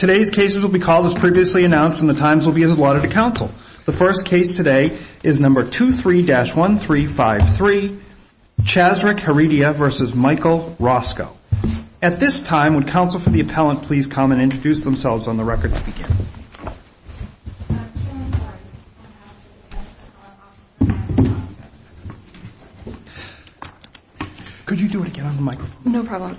Today's cases will be called as previously announced and the times will be as allotted to counsel. The first case today is number 23-1353, Chazrek Heredia v. Michael Roscoe. At this time, would counsel for the appellant please come and introduce themselves on the record to begin? Could you do it again on the microphone? No problem.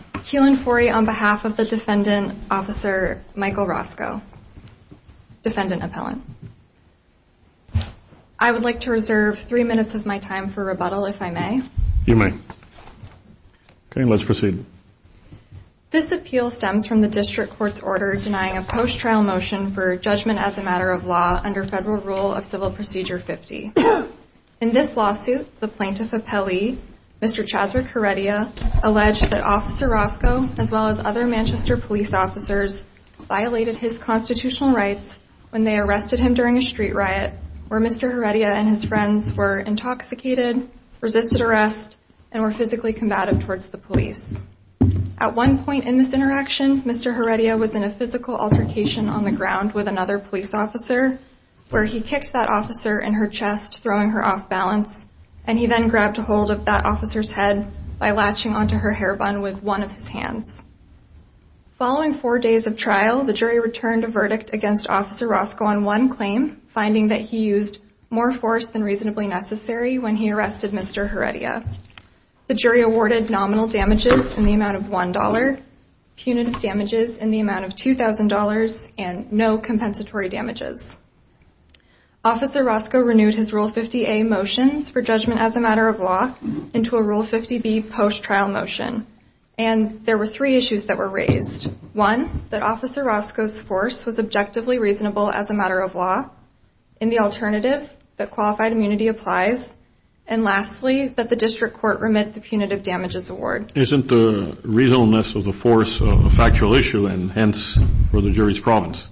I would like to reserve three minutes of my time for rebuttal if I may. You may. Okay, let's proceed. This appeal stems from the district court's order denying a post-trial motion for judgment as a matter of law under Federal Rule of Civil Procedure 50. In this lawsuit, the plaintiff appellee, Mr. Chazrek Heredia, alleged that Officer Roscoe, as well as other Manchester police officers, violated his constitutional rights when they arrested him during a street riot where Mr. Heredia and his friends were intoxicated, resisted arrest, and were physically combative towards the police. At one point in this interaction, Mr. Heredia was in a physical altercation on the ground with another police officer, where he kicked that officer in her chest, throwing her off-balance, and he then grabbed a hold of that officer's head by latching onto her hairbun with one of his hands. Following four days of trial, the jury returned a verdict against Officer Roscoe on one claim, finding that he used more force than reasonably necessary when he arrested Mr. Heredia. The jury awarded nominal damages in the amount of $1, punitive damages in the amount of $2,000, and no compensatory damages. Officer Roscoe renewed his Rule 50A motions for judgment as a matter of law into a Rule 50B post-trial motion, and there were three issues that were raised. One, that Officer Roscoe's force was objectively reasonable as a matter of law. And the alternative, that qualified immunity applies. And lastly, that the district court remit the punitive damages award. Isn't the reasonableness of the force a factual issue, and hence, for the jury's province?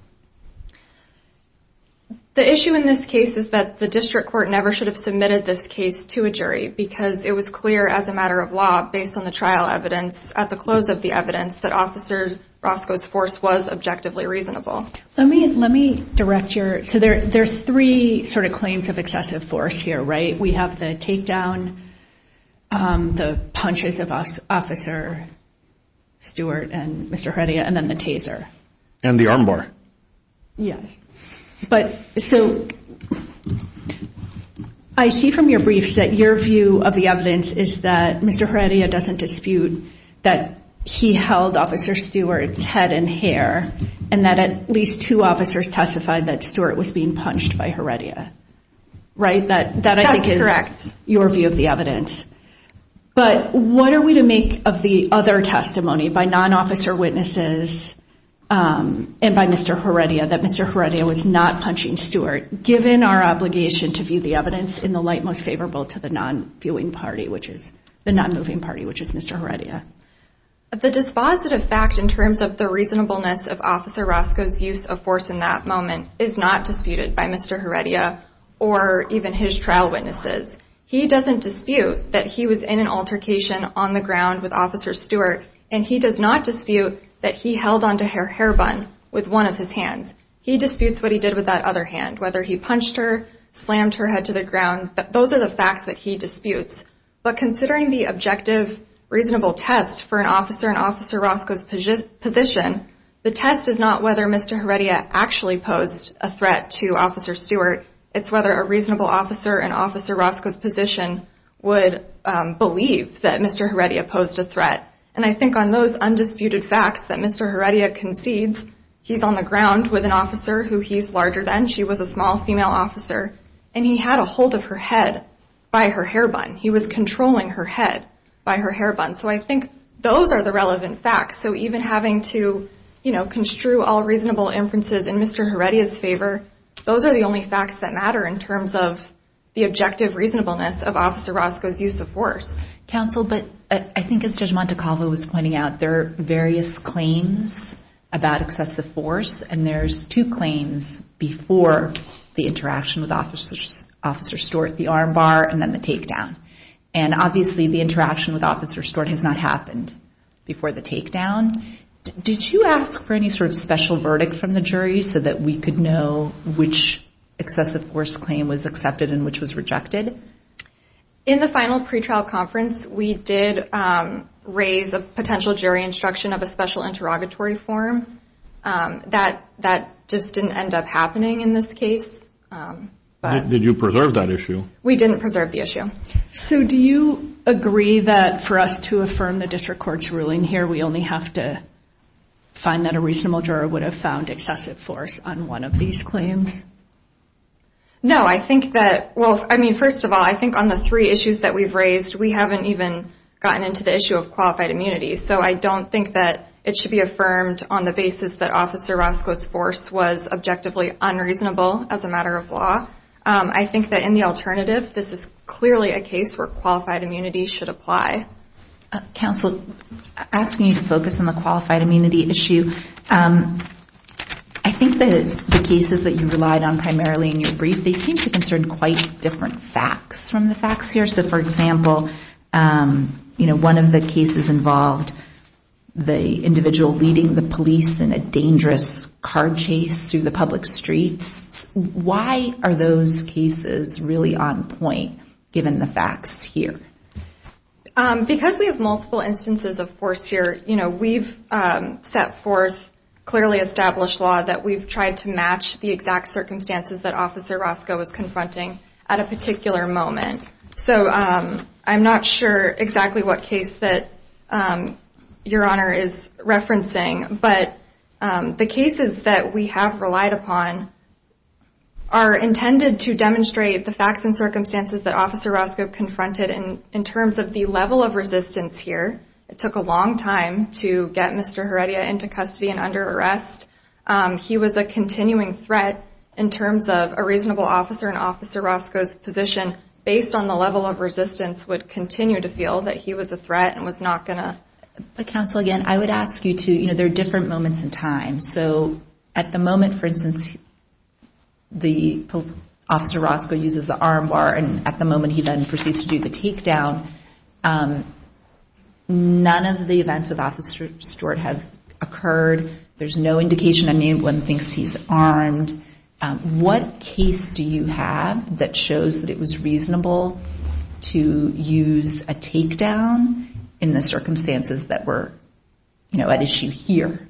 The issue in this case is that the district court never should have submitted this case to a jury, because it was clear as a matter of law, based on the trial evidence, at the close of the evidence, that Officer Roscoe's force was objectively reasonable. Let me direct your, so there's three sort of claims of excessive force here, right? We have the takedown, the punches of Officer Stewart and Mr. Heredia, and then the taser. And the armbar. Yes. But, so, I see from your briefs that your view of the evidence is that Mr. Heredia doesn't dispute that he held Officer Stewart's head and hair, and that at least two officers testified that Stewart was being punched by Heredia, right? That's correct. That, I think, is your view of the evidence. But what are we to make of the other testimony by non-officer witnesses and by Mr. Heredia, that Mr. Heredia was not punching Stewart, given our obligation to view the evidence in the light most favorable to the non-viewing party, which is, the non-moving party, which is Mr. Heredia? The dispositive fact in terms of the reasonableness of Officer Roscoe's use of force in that moment is not disputed by Mr. Heredia or even his trial witnesses. He doesn't dispute that he was in an altercation on the ground with Officer Stewart, and he does not dispute that he held onto her hairbun with one of his hands. He disputes what he did with that other hand, whether he punched her, slammed her head to the ground. Those are the facts that he disputes. But considering the objective, reasonable test for an officer in Officer Roscoe's position, the test is not whether Mr. Heredia actually posed a threat to Officer Stewart. It's whether a reasonable officer in Officer Roscoe's position would believe that Mr. Heredia posed a threat. And I think on those undisputed facts that Mr. Heredia concedes, he's on the ground with an officer who he's larger than. She was a small female officer, and he had a hold of her head by her hairbun. He was controlling her head by her hairbun. So I think those are the relevant facts. So even having to construe all reasonable inferences in Mr. Heredia's favor, those are the only facts that matter in terms of the objective reasonableness of Officer Roscoe's use of force. Counsel, but I think as Judge Montecalvo was pointing out, there are various claims about excessive force, and there's two claims before the interaction with Officer Stewart, the arm bar and then the takedown. And obviously the interaction with Officer Stewart has not happened before the takedown. Did you ask for any sort of special verdict from the jury so that we could know which excessive force claim was accepted and which was rejected? In the final pretrial conference, we did raise a potential jury instruction of a special interrogatory form. That just didn't end up happening in this case. Did you preserve that issue? We didn't preserve the issue. So do you agree that for us to affirm the district court's ruling here, we only have to find that a reasonable juror would have found excessive force on one of these claims? No, I think that, well, I mean, first of all, I think on the three issues that we've raised, we haven't even gotten into the issue of qualified immunity. So I don't think that it should be affirmed on the basis that Officer Roscoe's force was objectively unreasonable as a matter of law. I think that in the alternative, this is clearly a case where qualified immunity should apply. Counsel, asking you to focus on the qualified immunity issue, I think that the cases that you relied on primarily in your brief, they seem to concern quite different facts from the facts here. So for example, one of the cases involved the individual leading the police in a dangerous car chase through the public streets. Why are those cases really on point, given the facts here? Because we have multiple instances of force here, we've set forth clearly established law that we've tried to match the exact circumstances that Officer Roscoe was confronting at a particular moment. So I'm not sure exactly what case that Your Honor is referencing, but the cases that we have relied upon are intended to demonstrate the facts and circumstances that Officer Roscoe confronted in terms of the level of resistance here. It took a long time to get Mr. Heredia into custody and under arrest. He was a continuing threat in terms of a reasonable officer in Officer Roscoe's position, based on the level of resistance would continue to feel that he was a threat and was not going to... But Counsel, again, I would ask you to, you know, there are different moments in time. So at the moment, for instance, the Officer Roscoe uses the arm bar and at the moment he then proceeds to do the takedown, none of the events with Officer Stewart have occurred. There's no indication anyone thinks he's armed. What case do you have that shows that it was reasonable to use a takedown in the circumstances that were, you know, at issue here?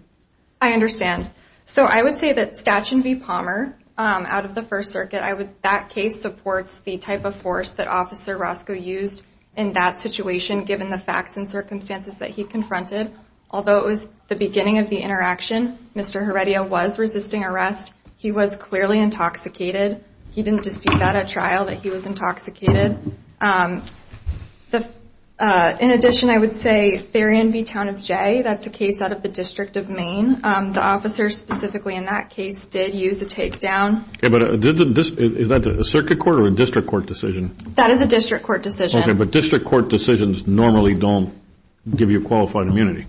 I understand. So I would say that Statuen v. Palmer out of the First Circuit, that case supports the type of force that Officer Roscoe used in that situation, given the facts and circumstances that he confronted. Although it was the beginning of the interaction, Mr. Heredia was resisting arrest. He was clearly intoxicated. He didn't dispute that at trial, that he was intoxicated. In addition, I would say Therian v. Town of Jay, that's a case out of the District of Maine. The Officer specifically in that case did use a takedown. Okay, but is that a Circuit Court or a District Court decision? That is a District Court decision. Okay, but District Court decisions normally don't give you qualified immunity.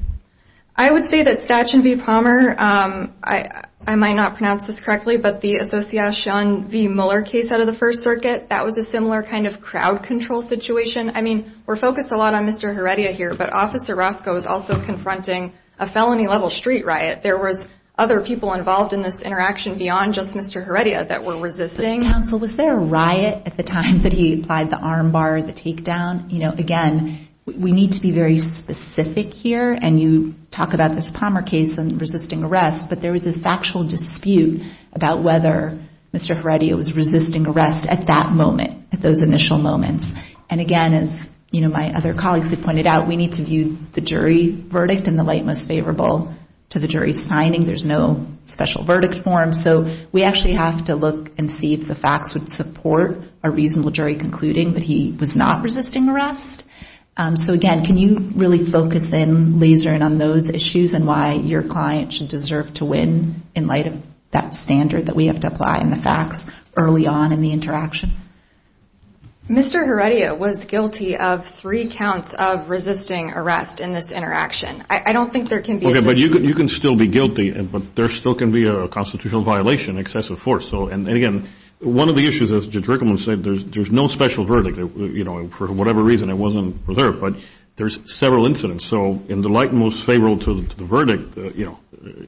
I would say that Statuen v. Palmer, I might not pronounce this correctly, but the Association v. Muller case out of the First Circuit. That was a similar kind of crowd control situation. I mean, we're focused a lot on Mr. Heredia here, but Officer Roscoe is also confronting a felony level street riot. There was other people involved in this interaction beyond just Mr. Heredia that were resisting. Counsel, was there a riot at the time that he applied the armbar, the takedown? Again, we need to be very specific here, and you talk about this Palmer case and resisting arrest, but there was this factual dispute about whether Mr. Heredia was resisting arrest at that moment, at those initial moments. And again, as my other colleagues have pointed out, we need to view the jury verdict in the light most favorable to the jury's finding. There's no special verdict form, so we actually have to look and see if the facts would support a reasonable jury concluding that he was not resisting arrest. So again, can you really focus in, laser in on those issues and why your client should deserve to win in light of that standard that we have to apply in the facts early on in the interaction? Mr. Heredia was guilty of three counts of resisting arrest in this interaction. I don't think there can be a dispute. Okay, but you can still be guilty, but there still can be a constitutional violation, excessive force. And again, one of the issues, as Judge Rickleman said, there's no special verdict. For whatever reason, it wasn't preserved, but there's several incidents. So in the light most favorable to the verdict,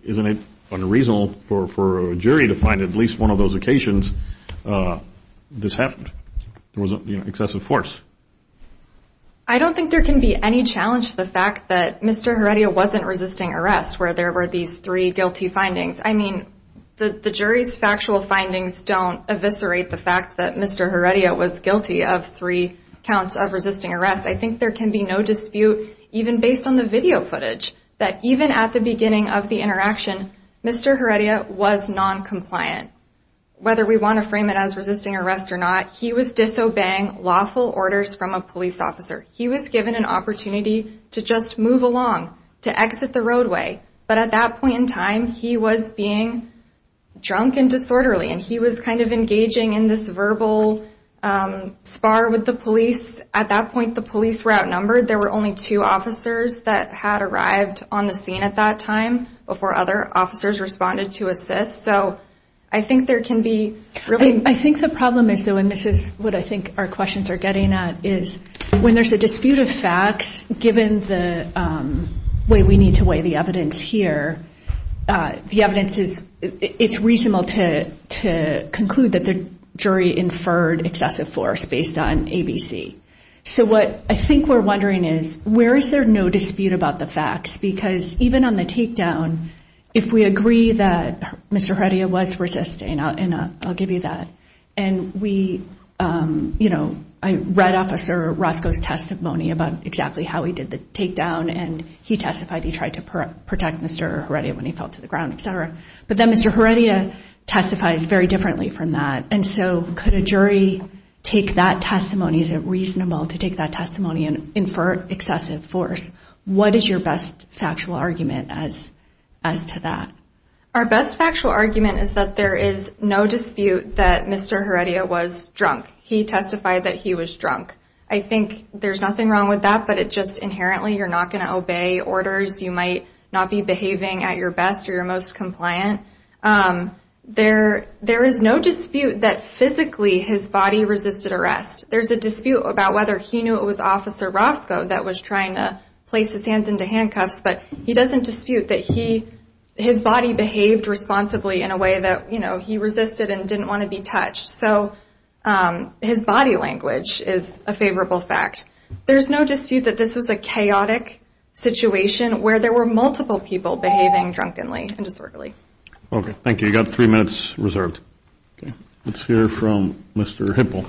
isn't it unreasonable for a jury to find at least one of those occasions this happened, there was excessive force? I don't think there can be any challenge to the fact that Mr. Heredia wasn't resisting arrest where there were these three guilty findings. I mean, the jury's factual findings don't eviscerate the fact that Mr. Heredia was guilty of three counts of resisting arrest. I think there can be no dispute, even based on the video footage, that even at the beginning of the interaction, Mr. Heredia was noncompliant. Whether we want to frame it as resisting arrest or not, he was disobeying lawful orders from a police officer. He was given an opportunity to just move along, to exit the roadway. But at that point in time, he was being drunk and disorderly, and he was kind of engaging in this verbal spar with the police. At that point, the police were outnumbered. There were only two officers that had arrived on the scene at that time before other officers responded to assist. So I think there can be really- I think the problem is, though, and this is what I think our questions are getting at, is when there's a dispute of facts, given the way we need to weigh the evidence here, the evidence is, it's reasonable to conclude that the jury inferred excessive force based on ABC. So what I think we're wondering is, where is there no dispute about the facts? Because even on the takedown, if we agree that Mr. Heredia was resisting, and I'll give you that, and we, you know, I read Officer Roscoe's testimony about exactly how he did the takedown, and he testified he tried to protect Mr. Heredia when he fell to the ground, et cetera. But then Mr. Heredia testifies very differently from that. And so could a jury take that testimony? Is it reasonable to take that testimony and infer excessive force? What is your best factual argument as to that? Our best factual argument is that there is no dispute that Mr. Heredia was drunk. He testified that he was drunk. I think there's nothing wrong with that, but it just inherently, you're not going to obey orders. You might not be behaving at your best or your most compliant. There is no dispute that physically his body resisted arrest. There's a dispute about whether he knew it was Officer Roscoe that was trying to place his hands into handcuffs, but he doesn't dispute that he, his body behaved responsibly in a way that, you know, he resisted and didn't want to be touched. So his body language is a favorable fact. There's no dispute that this was a chaotic situation where there were multiple people behaving drunkenly and disorderly. Okay. Thank you. You've got three minutes reserved. Okay. Let's hear from Mr. Hipple.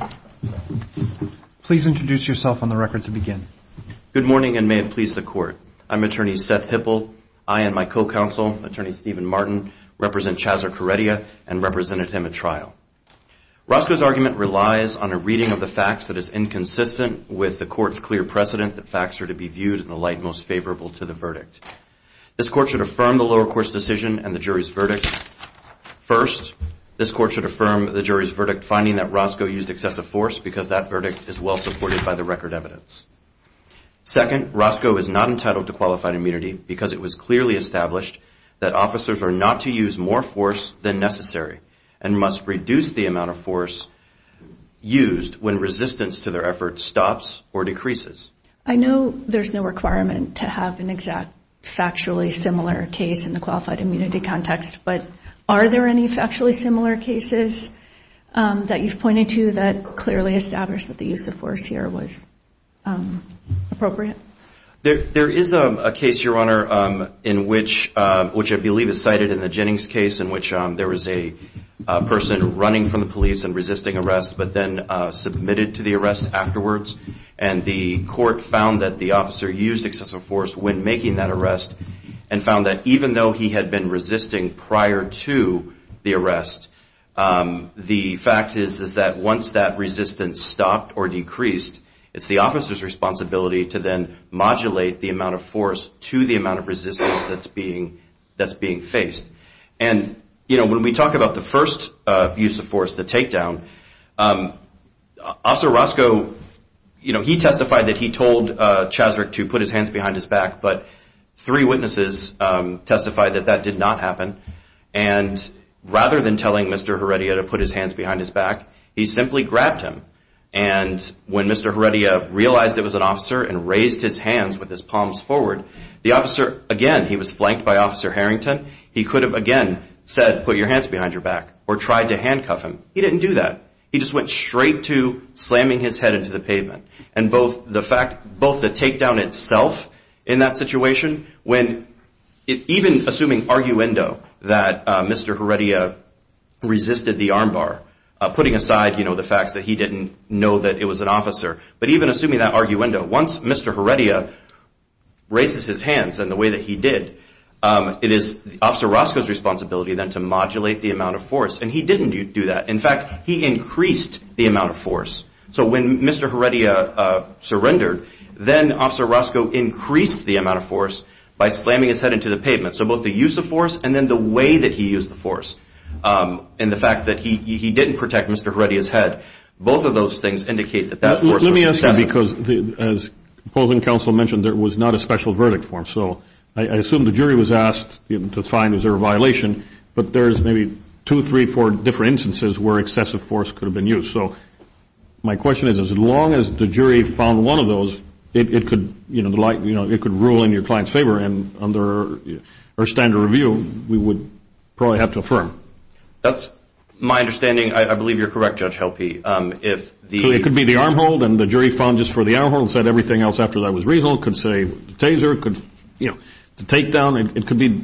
Please introduce yourself on the record to begin. Good morning and may it please the Court. I'm Attorney Seth Hipple. I and my co-counsel, Attorney Stephen Martin, represent Chazzer Heredia and represented him at trial. Roscoe's argument relies on a reading of the facts that is inconsistent with the Court's clear precedent that facts are to be viewed in the light most favorable to the verdict. This Court should affirm the lower court's decision and the jury's verdict. First, this Court should affirm the jury's verdict finding that Roscoe used excessive force because that verdict is well supported by the record evidence. Second, Roscoe is not entitled to qualified immunity because it was clearly established that officers are not to use more force than necessary and must reduce the amount of force used when resistance to their efforts stops or decreases. I know there's no requirement to have an exact factually similar case in the qualified immunity context, but are there any factually similar cases that you've pointed to that clearly established that the use of force here was appropriate? There is a case, Your Honor, which I believe is cited in the Jennings case in which there was a person running from the police and resisting arrest but then submitted to the arrest afterwards and the court found that the officer used excessive force when making that arrest and found that even though he had been resisting prior to the arrest, the fact is that once that resistance stopped or decreased, it's the officer's responsibility to then modulate the amount of force to the amount of resistance that's being faced. And when we talk about the first use of force, the takedown, Officer Roscoe, he testified that he told Chasrick to put his hands behind his back, but three witnesses testified that that did not happen and rather than telling Mr. Heredia to put his hands behind his back, he simply grabbed him and when Mr. Heredia realized it was an officer and raised his hands with his palms forward, the officer, again, he was flanked by Officer Harrington, he could have, again, said put your hands behind your back or tried to handcuff him. He didn't do that. He just went straight to slamming his head into the pavement and both the fact, both the takedown itself in that situation when even assuming arguendo that Mr. Heredia resisted the armbar, putting aside, you know, the fact that he didn't know that it was an officer, but even assuming that arguendo, once Mr. Heredia raises his hands in the way that he did, it is Officer Roscoe's responsibility then to modulate the amount of force and he didn't do that. In fact, he increased the amount of force. So when Mr. Heredia surrendered, then Officer Roscoe increased the amount of force by slamming his head into the pavement. So both the use of force and then the way that he used the force and the fact that he didn't protect Mr. Heredia's head, both of those things indicate that that force was used. Because as opposing counsel mentioned, there was not a special verdict for him. So I assume the jury was asked to find, is there a violation, but there's maybe two, three, four different instances where excessive force could have been used. So my question is, as long as the jury found one of those, it could, you know, like, you know, it could rule in your client's favor and under our standard review, we would probably have to affirm. That's my understanding. I believe you're correct, Judge Helpe. It could be the arm hold and the jury found just for the arm hold and said everything else after that was reasonable. It could say taser, it could, you know, take down. It could be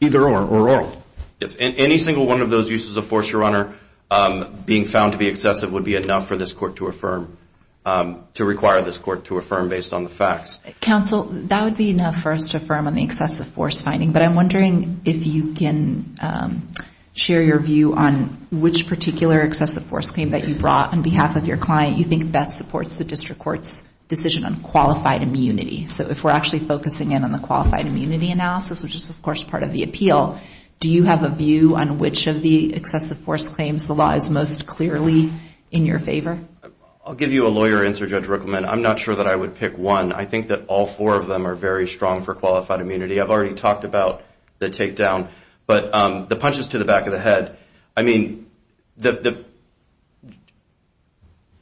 either or oral. Yes. And any single one of those uses of force, Your Honor, being found to be excessive would be enough for this court to affirm, to require this court to affirm based on the facts. Counsel, that would be enough for us to affirm on the excessive force finding. But I'm wondering if you can share your view on which particular excessive force claim that you brought on behalf of your client you think best supports the district court's decision on qualified immunity. So if we're actually focusing in on the qualified immunity analysis, which is, of course, part of the appeal, do you have a view on which of the excessive force claims the law is most clearly in your favor? I'll give you a lawyer answer, Judge Ruckelman. I'm not sure that I would pick one. I think that all four of them are very strong for qualified immunity. I've already talked about the takedown. But the punches to the back of the head, I mean,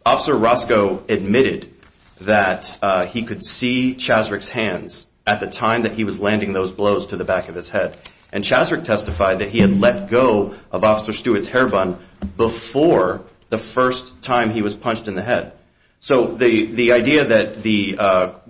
Officer Roscoe admitted that he could see Chasrick's hands at the time that he was landing those blows to the back of his head. And Chasrick testified that he had let go of Officer Stewart's hairbun before the first time he was punched in the head. So the idea that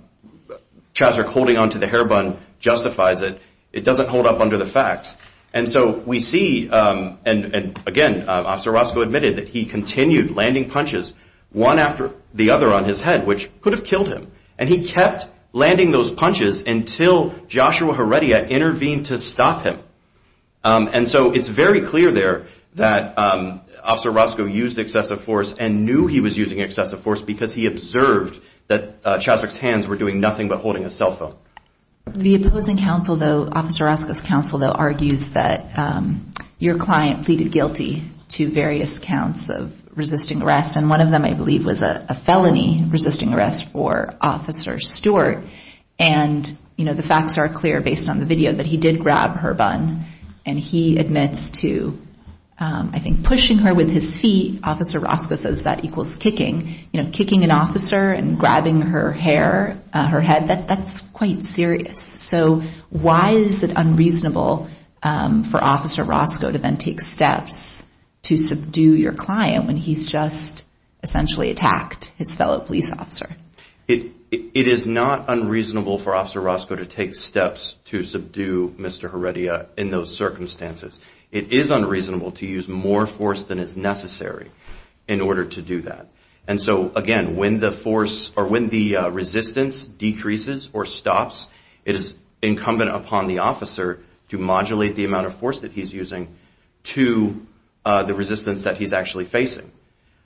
Chasrick holding onto the hairbun justifies it, it doesn't hold up under the facts. And so we see, and again, Officer Roscoe admitted that he continued landing punches, one after the other on his head, which could have killed him. And he kept landing those punches until Joshua Heredia intervened to stop him. And so it's very clear there that Officer Roscoe used excessive force and knew he was using excessive force because he observed that Chasrick's hands were doing nothing but holding his cell phone. The opposing counsel, though, Officer Roscoe's counsel, though, argues that your client pleaded guilty to various counts of resisting arrest. And one of them, I believe, was a felony resisting arrest for Officer Stewart. And the facts are clear, based on the video, that he did grab her bun. And he admits to, I think, pushing her with his feet. Officer Roscoe says that equals kicking, kicking an officer and grabbing her hair, her head. That's quite serious. So why is it unreasonable for Officer Roscoe to then take steps to subdue your client when he's just essentially attacked his fellow police officer? It is not unreasonable for Officer Roscoe to take steps to subdue Mr. Heredia in those circumstances. It is unreasonable to use more force than is necessary in order to do that. And so, again, when the force or when the resistance decreases or stops, it is incumbent upon the officer to modulate the amount of force that he's using to the resistance that he's actually facing.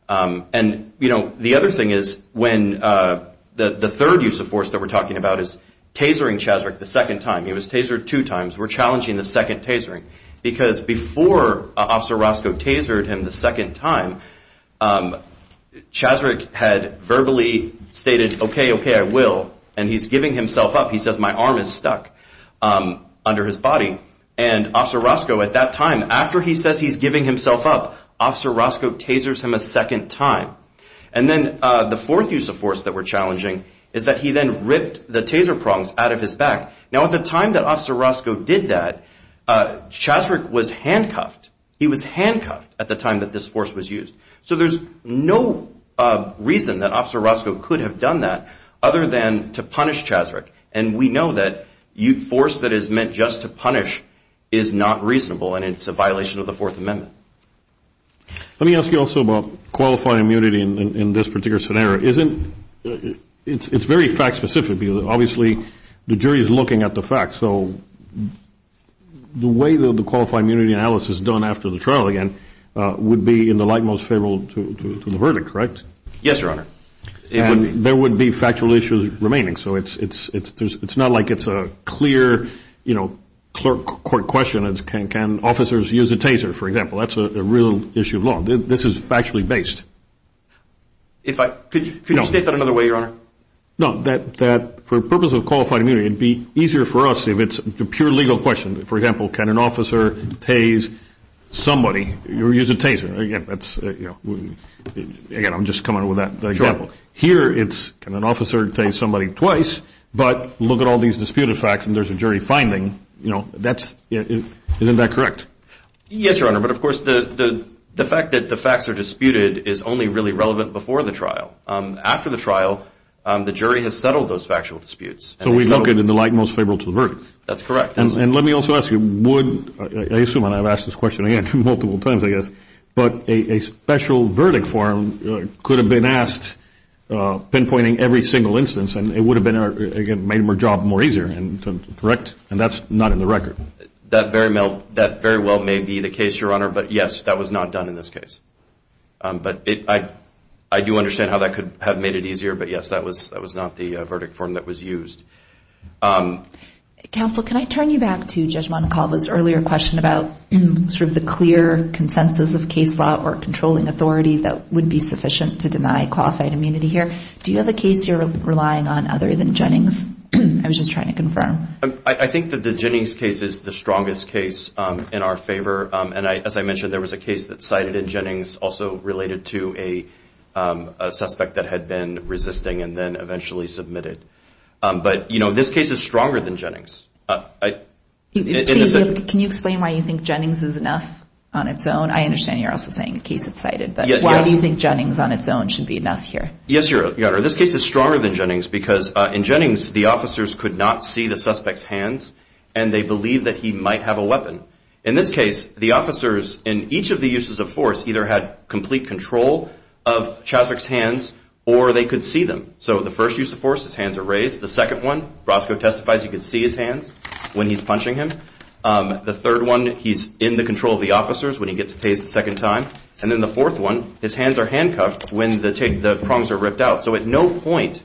And the other thing is, when the third use of force that we're talking about is tasering Chasrick the second time, he was tasered two times, we're challenging the second tasering. Because before Officer Roscoe tasered him the second time, Chasrick had verbally stated, OK, OK, I will. And he's giving himself up. He says, my arm is stuck under his body. And Officer Roscoe, at that time, after he says he's giving himself up, Officer Roscoe tasers him a second time. And then the fourth use of force that we're challenging is that he then ripped the taser prongs out of his back. Now, at the time that Officer Roscoe did that, Chasrick was handcuffed. He was handcuffed at the time that this force was used. So there's no reason that Officer Roscoe could have done that other than to punish Chasrick. And we know that force that is meant just to punish is not reasonable, and it's a violation of the Fourth Amendment. Let me ask you also about qualifying immunity in this particular scenario. It's very fact specific, because obviously, the jury is looking at the facts. So the way that the qualifying immunity analysis is done after the trial, again, would be in the light most favorable to the verdict, correct? Yes, Your Honor. And there would be factual issues remaining. So it's not like it's a clear court question. Can officers use a taser, for example? That's a real issue of law. This is factually based. Could you state that another way, Your Honor? No, that for the purpose of qualifying immunity, it would be easier for us if it's a pure legal question. For example, can an officer tase somebody, or use a taser, again, I'm just coming up with that example. Sure. Here, it's can an officer tase somebody twice, but look at all these disputed facts and there's a jury finding. Isn't that correct? Yes, Your Honor. But of course, the fact that the facts are disputed is only really relevant before the After the trial, the jury has settled those factual disputes. So we look at it in the light most favorable to the verdict. That's correct. And let me also ask you, I assume I've asked this question again, multiple times, I guess, but a special verdict form could have been asked, pinpointing every single instance, and it would have made our job more easier, correct? And that's not in the record. That very well may be the case, Your Honor, but yes, that was not done in this case. But I do understand how that could have made it easier, but yes, that was not the verdict form that was used. Counsel, can I turn you back to Judge Monacova's earlier question about sort of the clear consensus of case law or controlling authority that would be sufficient to deny qualified immunity here? Do you have a case you're relying on other than Jennings? I was just trying to confirm. I think that the Jennings case is the strongest case in our favor. And as I mentioned, there was a case that cited in Jennings also related to a suspect that had been resisting and then eventually submitted. But you know, this case is stronger than Jennings. Can you explain why you think Jennings is enough on its own? I understand you're also saying a case that's cited, but why do you think Jennings on its own should be enough here? Yes, Your Honor, this case is stronger than Jennings because in Jennings, the officers could not see the suspect's hands and they believed that he might have a weapon. In this case, the officers in each of the uses of force either had complete control of Chaswick's hands or they could see them. So the first use of force, his hands are raised. The second one, Roscoe testifies, he could see his hands when he's punching him. The third one, he's in the control of the officers when he gets the taste the second time. And then the fourth one, his hands are handcuffed when the prongs are ripped out. So at no point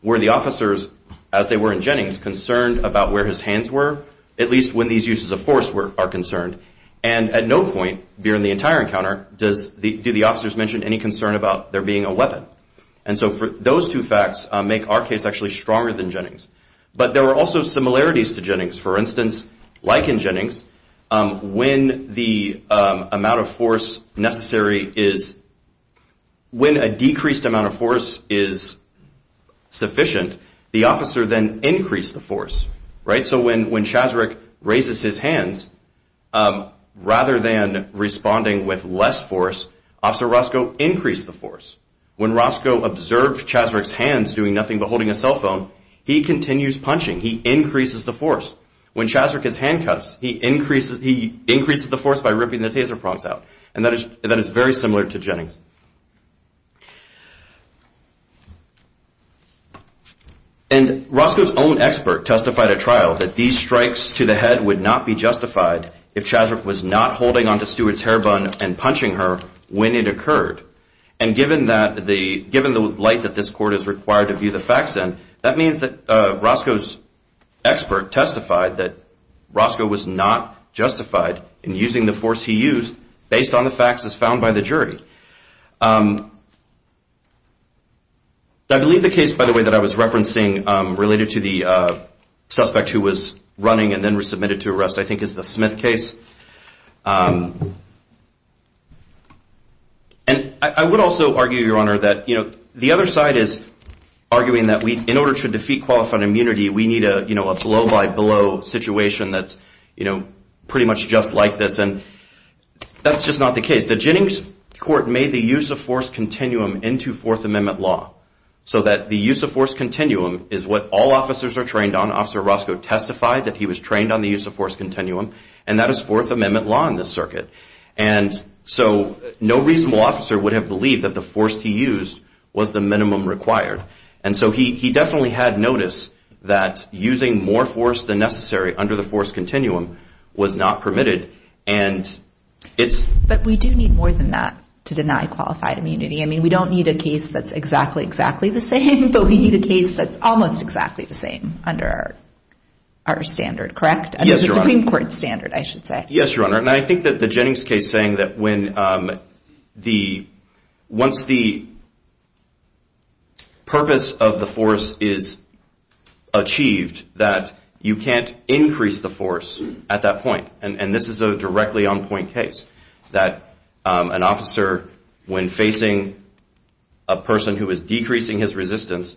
were the officers, as they were in Jennings, concerned about where his hands were, at least when these uses of force are concerned. And at no point during the entire encounter do the officers mention any concern about there being a weapon. And so those two facts make our case actually stronger than Jennings. But there were also similarities to Jennings. For instance, like in Jennings, when the amount of force necessary is, when a decreased amount of force is sufficient, the officer then increased the force, right? So when Chaswick raises his hands, rather than responding with less force, Officer Roscoe increased the force. When Roscoe observed Chaswick's hands doing nothing but holding a cell phone, he continues punching. He increases the force. When Chaswick is handcuffed, he increases the force by ripping the taser prongs out. And that is very similar to Jennings. And Roscoe's own expert testified at trial that these strikes to the head would not be justified if Chaswick was not holding onto Stewart's hair bun and punching her when it occurred. And given the light that this court is required to view the facts in, that means that Roscoe's expert testified that Roscoe was not justified in using the force he used based on the facts as found by the jury. I believe the case, by the way, that I was referencing related to the suspect who was running and then was submitted to arrest, I think, is the Smith case. And I would also argue, Your Honor, that the other side is arguing that in order to defeat qualified immunity, we need a blow-by-blow situation that's pretty much just like this. And that's just not the case. The Jennings court made the use of force continuum into Fourth Amendment law so that the use of force continuum is what all officers are trained on. Officer Roscoe testified that he was trained on the use of force continuum, and that is Fourth Amendment law in this circuit. And so no reasonable officer would have believed that the force he used was the minimum required. And so he definitely had notice that using more force than necessary under the force continuum was not permitted. And it's... But we do need more than that to deny qualified immunity. I mean, we don't need a case that's exactly, exactly the same, but we need a case that's almost exactly the same under our standard, correct? Under the Supreme Court standard, I should say. Yes, Your Honor. And I think that the Jennings case saying that when the... Once the purpose of the force is achieved, that you can't increase the force at that point. And this is a directly on-point case that an officer, when facing a person who is decreasing his resistance,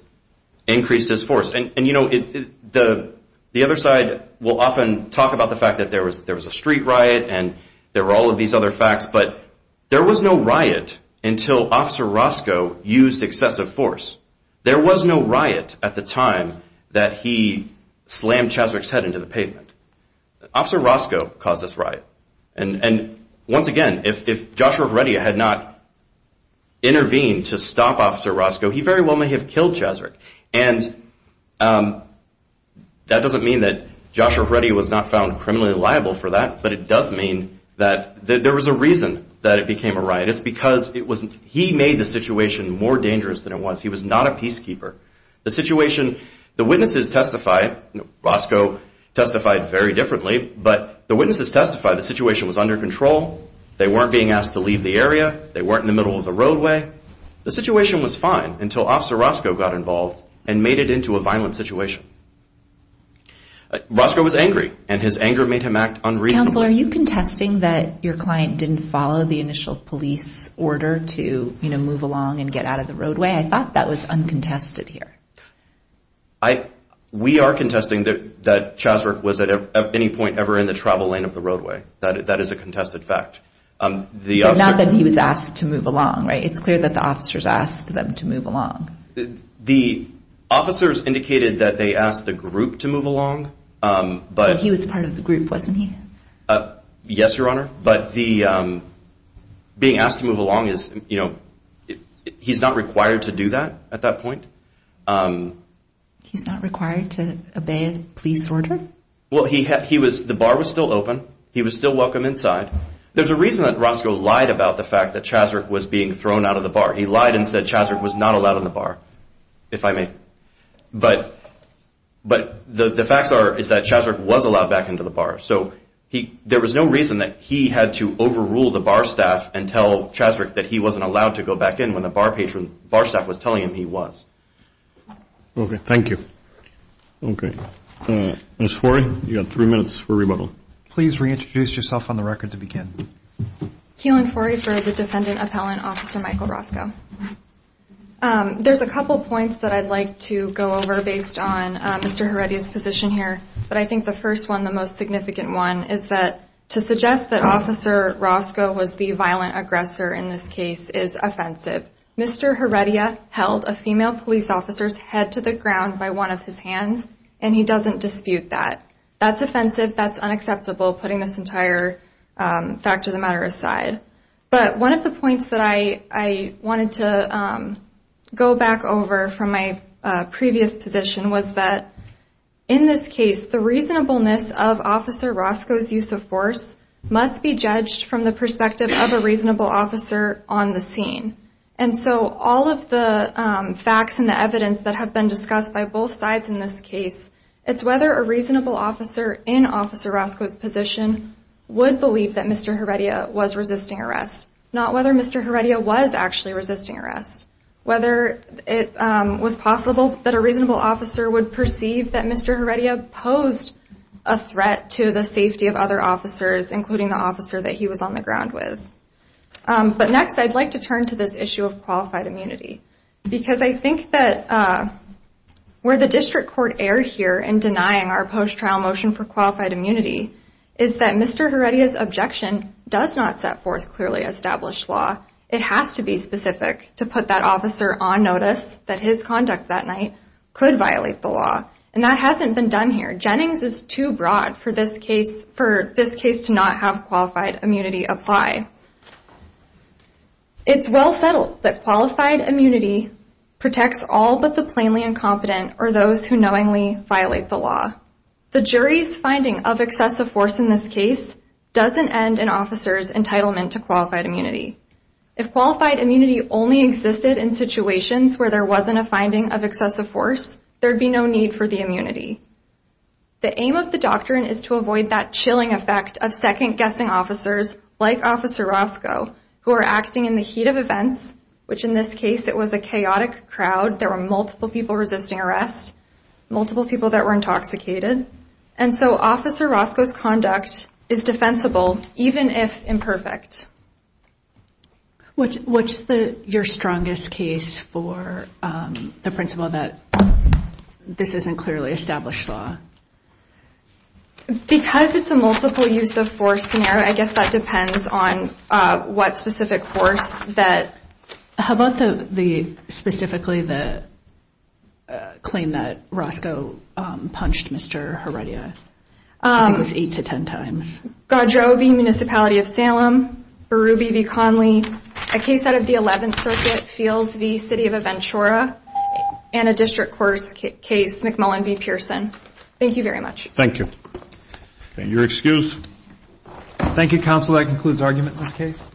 increased his force. And you know, the other side will often talk about the fact that there was a street riot and there were all of these other facts, but there was no riot until Officer Roscoe used excessive force. There was no riot at the time that he slammed Cheswick's head into the pavement. Officer Roscoe caused this riot. And once again, if Joshua Veredia had not intervened to stop Officer Roscoe, he very well may have killed Cheswick. And that doesn't mean that Joshua Veredia was not found criminally liable for that, but it does mean that there was a reason that it became a riot. It's because he made the situation more dangerous than it was. He was not a peacekeeper. The situation... The witnesses testified, Roscoe testified very differently, but the witnesses testified the situation was under control. They weren't being asked to leave the area. They weren't in the middle of the roadway. The situation was fine until Officer Roscoe got involved and made it into a violent situation. Roscoe was angry, and his anger made him act unreasonably. Counsel, are you contesting that your client didn't follow the initial police order to move along and get out of the roadway? I thought that was uncontested here. I... We are contesting that Cheswick was at any point ever in the travel lane of the roadway. That is a contested fact. Not that he was asked to move along, right? It's clear that the officers asked them to move along. The officers indicated that they asked the group to move along, but... But he was part of the group, wasn't he? Yes, Your Honor, but the... Being asked to move along is, you know... He's not required to do that at that point. He's not required to obey a police order? Well, he was... The bar was still open. He was still welcome inside. There's a reason that Roscoe lied about the fact that Cheswick was being thrown out of the bar. He lied and said Cheswick was not allowed in the bar, if I may. But the facts are that Cheswick was allowed back into the bar. So there was no reason that he had to overrule the bar staff and tell Cheswick that he wasn't allowed to go back in when the bar staff was telling him he was. Okay, thank you. Ms. Forey, you've got three minutes for rebuttal. Please reintroduce yourself on the record to begin. Keelan Forey for the defendant appellant, Officer Michael Roscoe. There's a couple points that I'd like to go over based on Mr. Heredia's position here. But I think the first one, the most significant one, is that to suggest that Officer Roscoe was the violent aggressor in this case is offensive. Mr. Heredia held a female police officer's head to the ground by one of his hands, and he doesn't dispute that. That's offensive, that's unacceptable, putting this entire fact of the matter aside. But one of the points that I wanted to go back over from my previous position was that in this case, the reasonableness of Officer Roscoe's use of force must be judged from the perspective of a reasonable officer on the scene. And so all of the facts and the evidence that have been discussed by both sides in this case, it's whether a reasonable officer in Officer Roscoe's position would believe that Mr. Heredia was resisting arrest, not whether Mr. Heredia was actually resisting arrest, whether it was possible that a reasonable officer would perceive that Mr. Heredia posed a threat to the safety of other officers, including the officer that he was on the ground with. But next, I'd like to turn to this issue of qualified immunity, because I think that where the district court erred here in denying our post-trial motion for qualified immunity is that Mr. Heredia's objection does not set forth clearly established law. It has to be specific to put that officer on notice that his conduct that night could violate the law. And that hasn't been done here. Jennings is too broad for this case to not have qualified immunity apply. It's well settled that qualified immunity protects all but the plainly incompetent or those who knowingly violate the law. The jury's finding of excessive force in this case doesn't end an officer's entitlement to qualified immunity. If qualified immunity only existed in situations where there wasn't a finding of excessive force, there'd be no need for the immunity. The aim of the doctrine is to avoid that chilling effect of second-guessing officers like Officer Roscoe, who are acting in the heat of events, which in this case it was a chaotic crowd. There were multiple people resisting arrest, multiple people that were intoxicated. And so Officer Roscoe's conduct is defensible, even if imperfect. What's your strongest case for the principle that this isn't clearly established law? Because it's a multiple-use-of-force scenario, I guess that depends on what specific force that. How about specifically the claim that Roscoe punched Mr. Heredia? I think it was eight to ten times. Godreau v. Municipality of Salem, Berube v. Conley. A case out of the 11th Circuit, Fields v. City of Aventura. And a district court case, McMullen v. Pearson. Thank you very much. Thank you. And you're excused. Thank you, Counsel. That concludes argument in this case.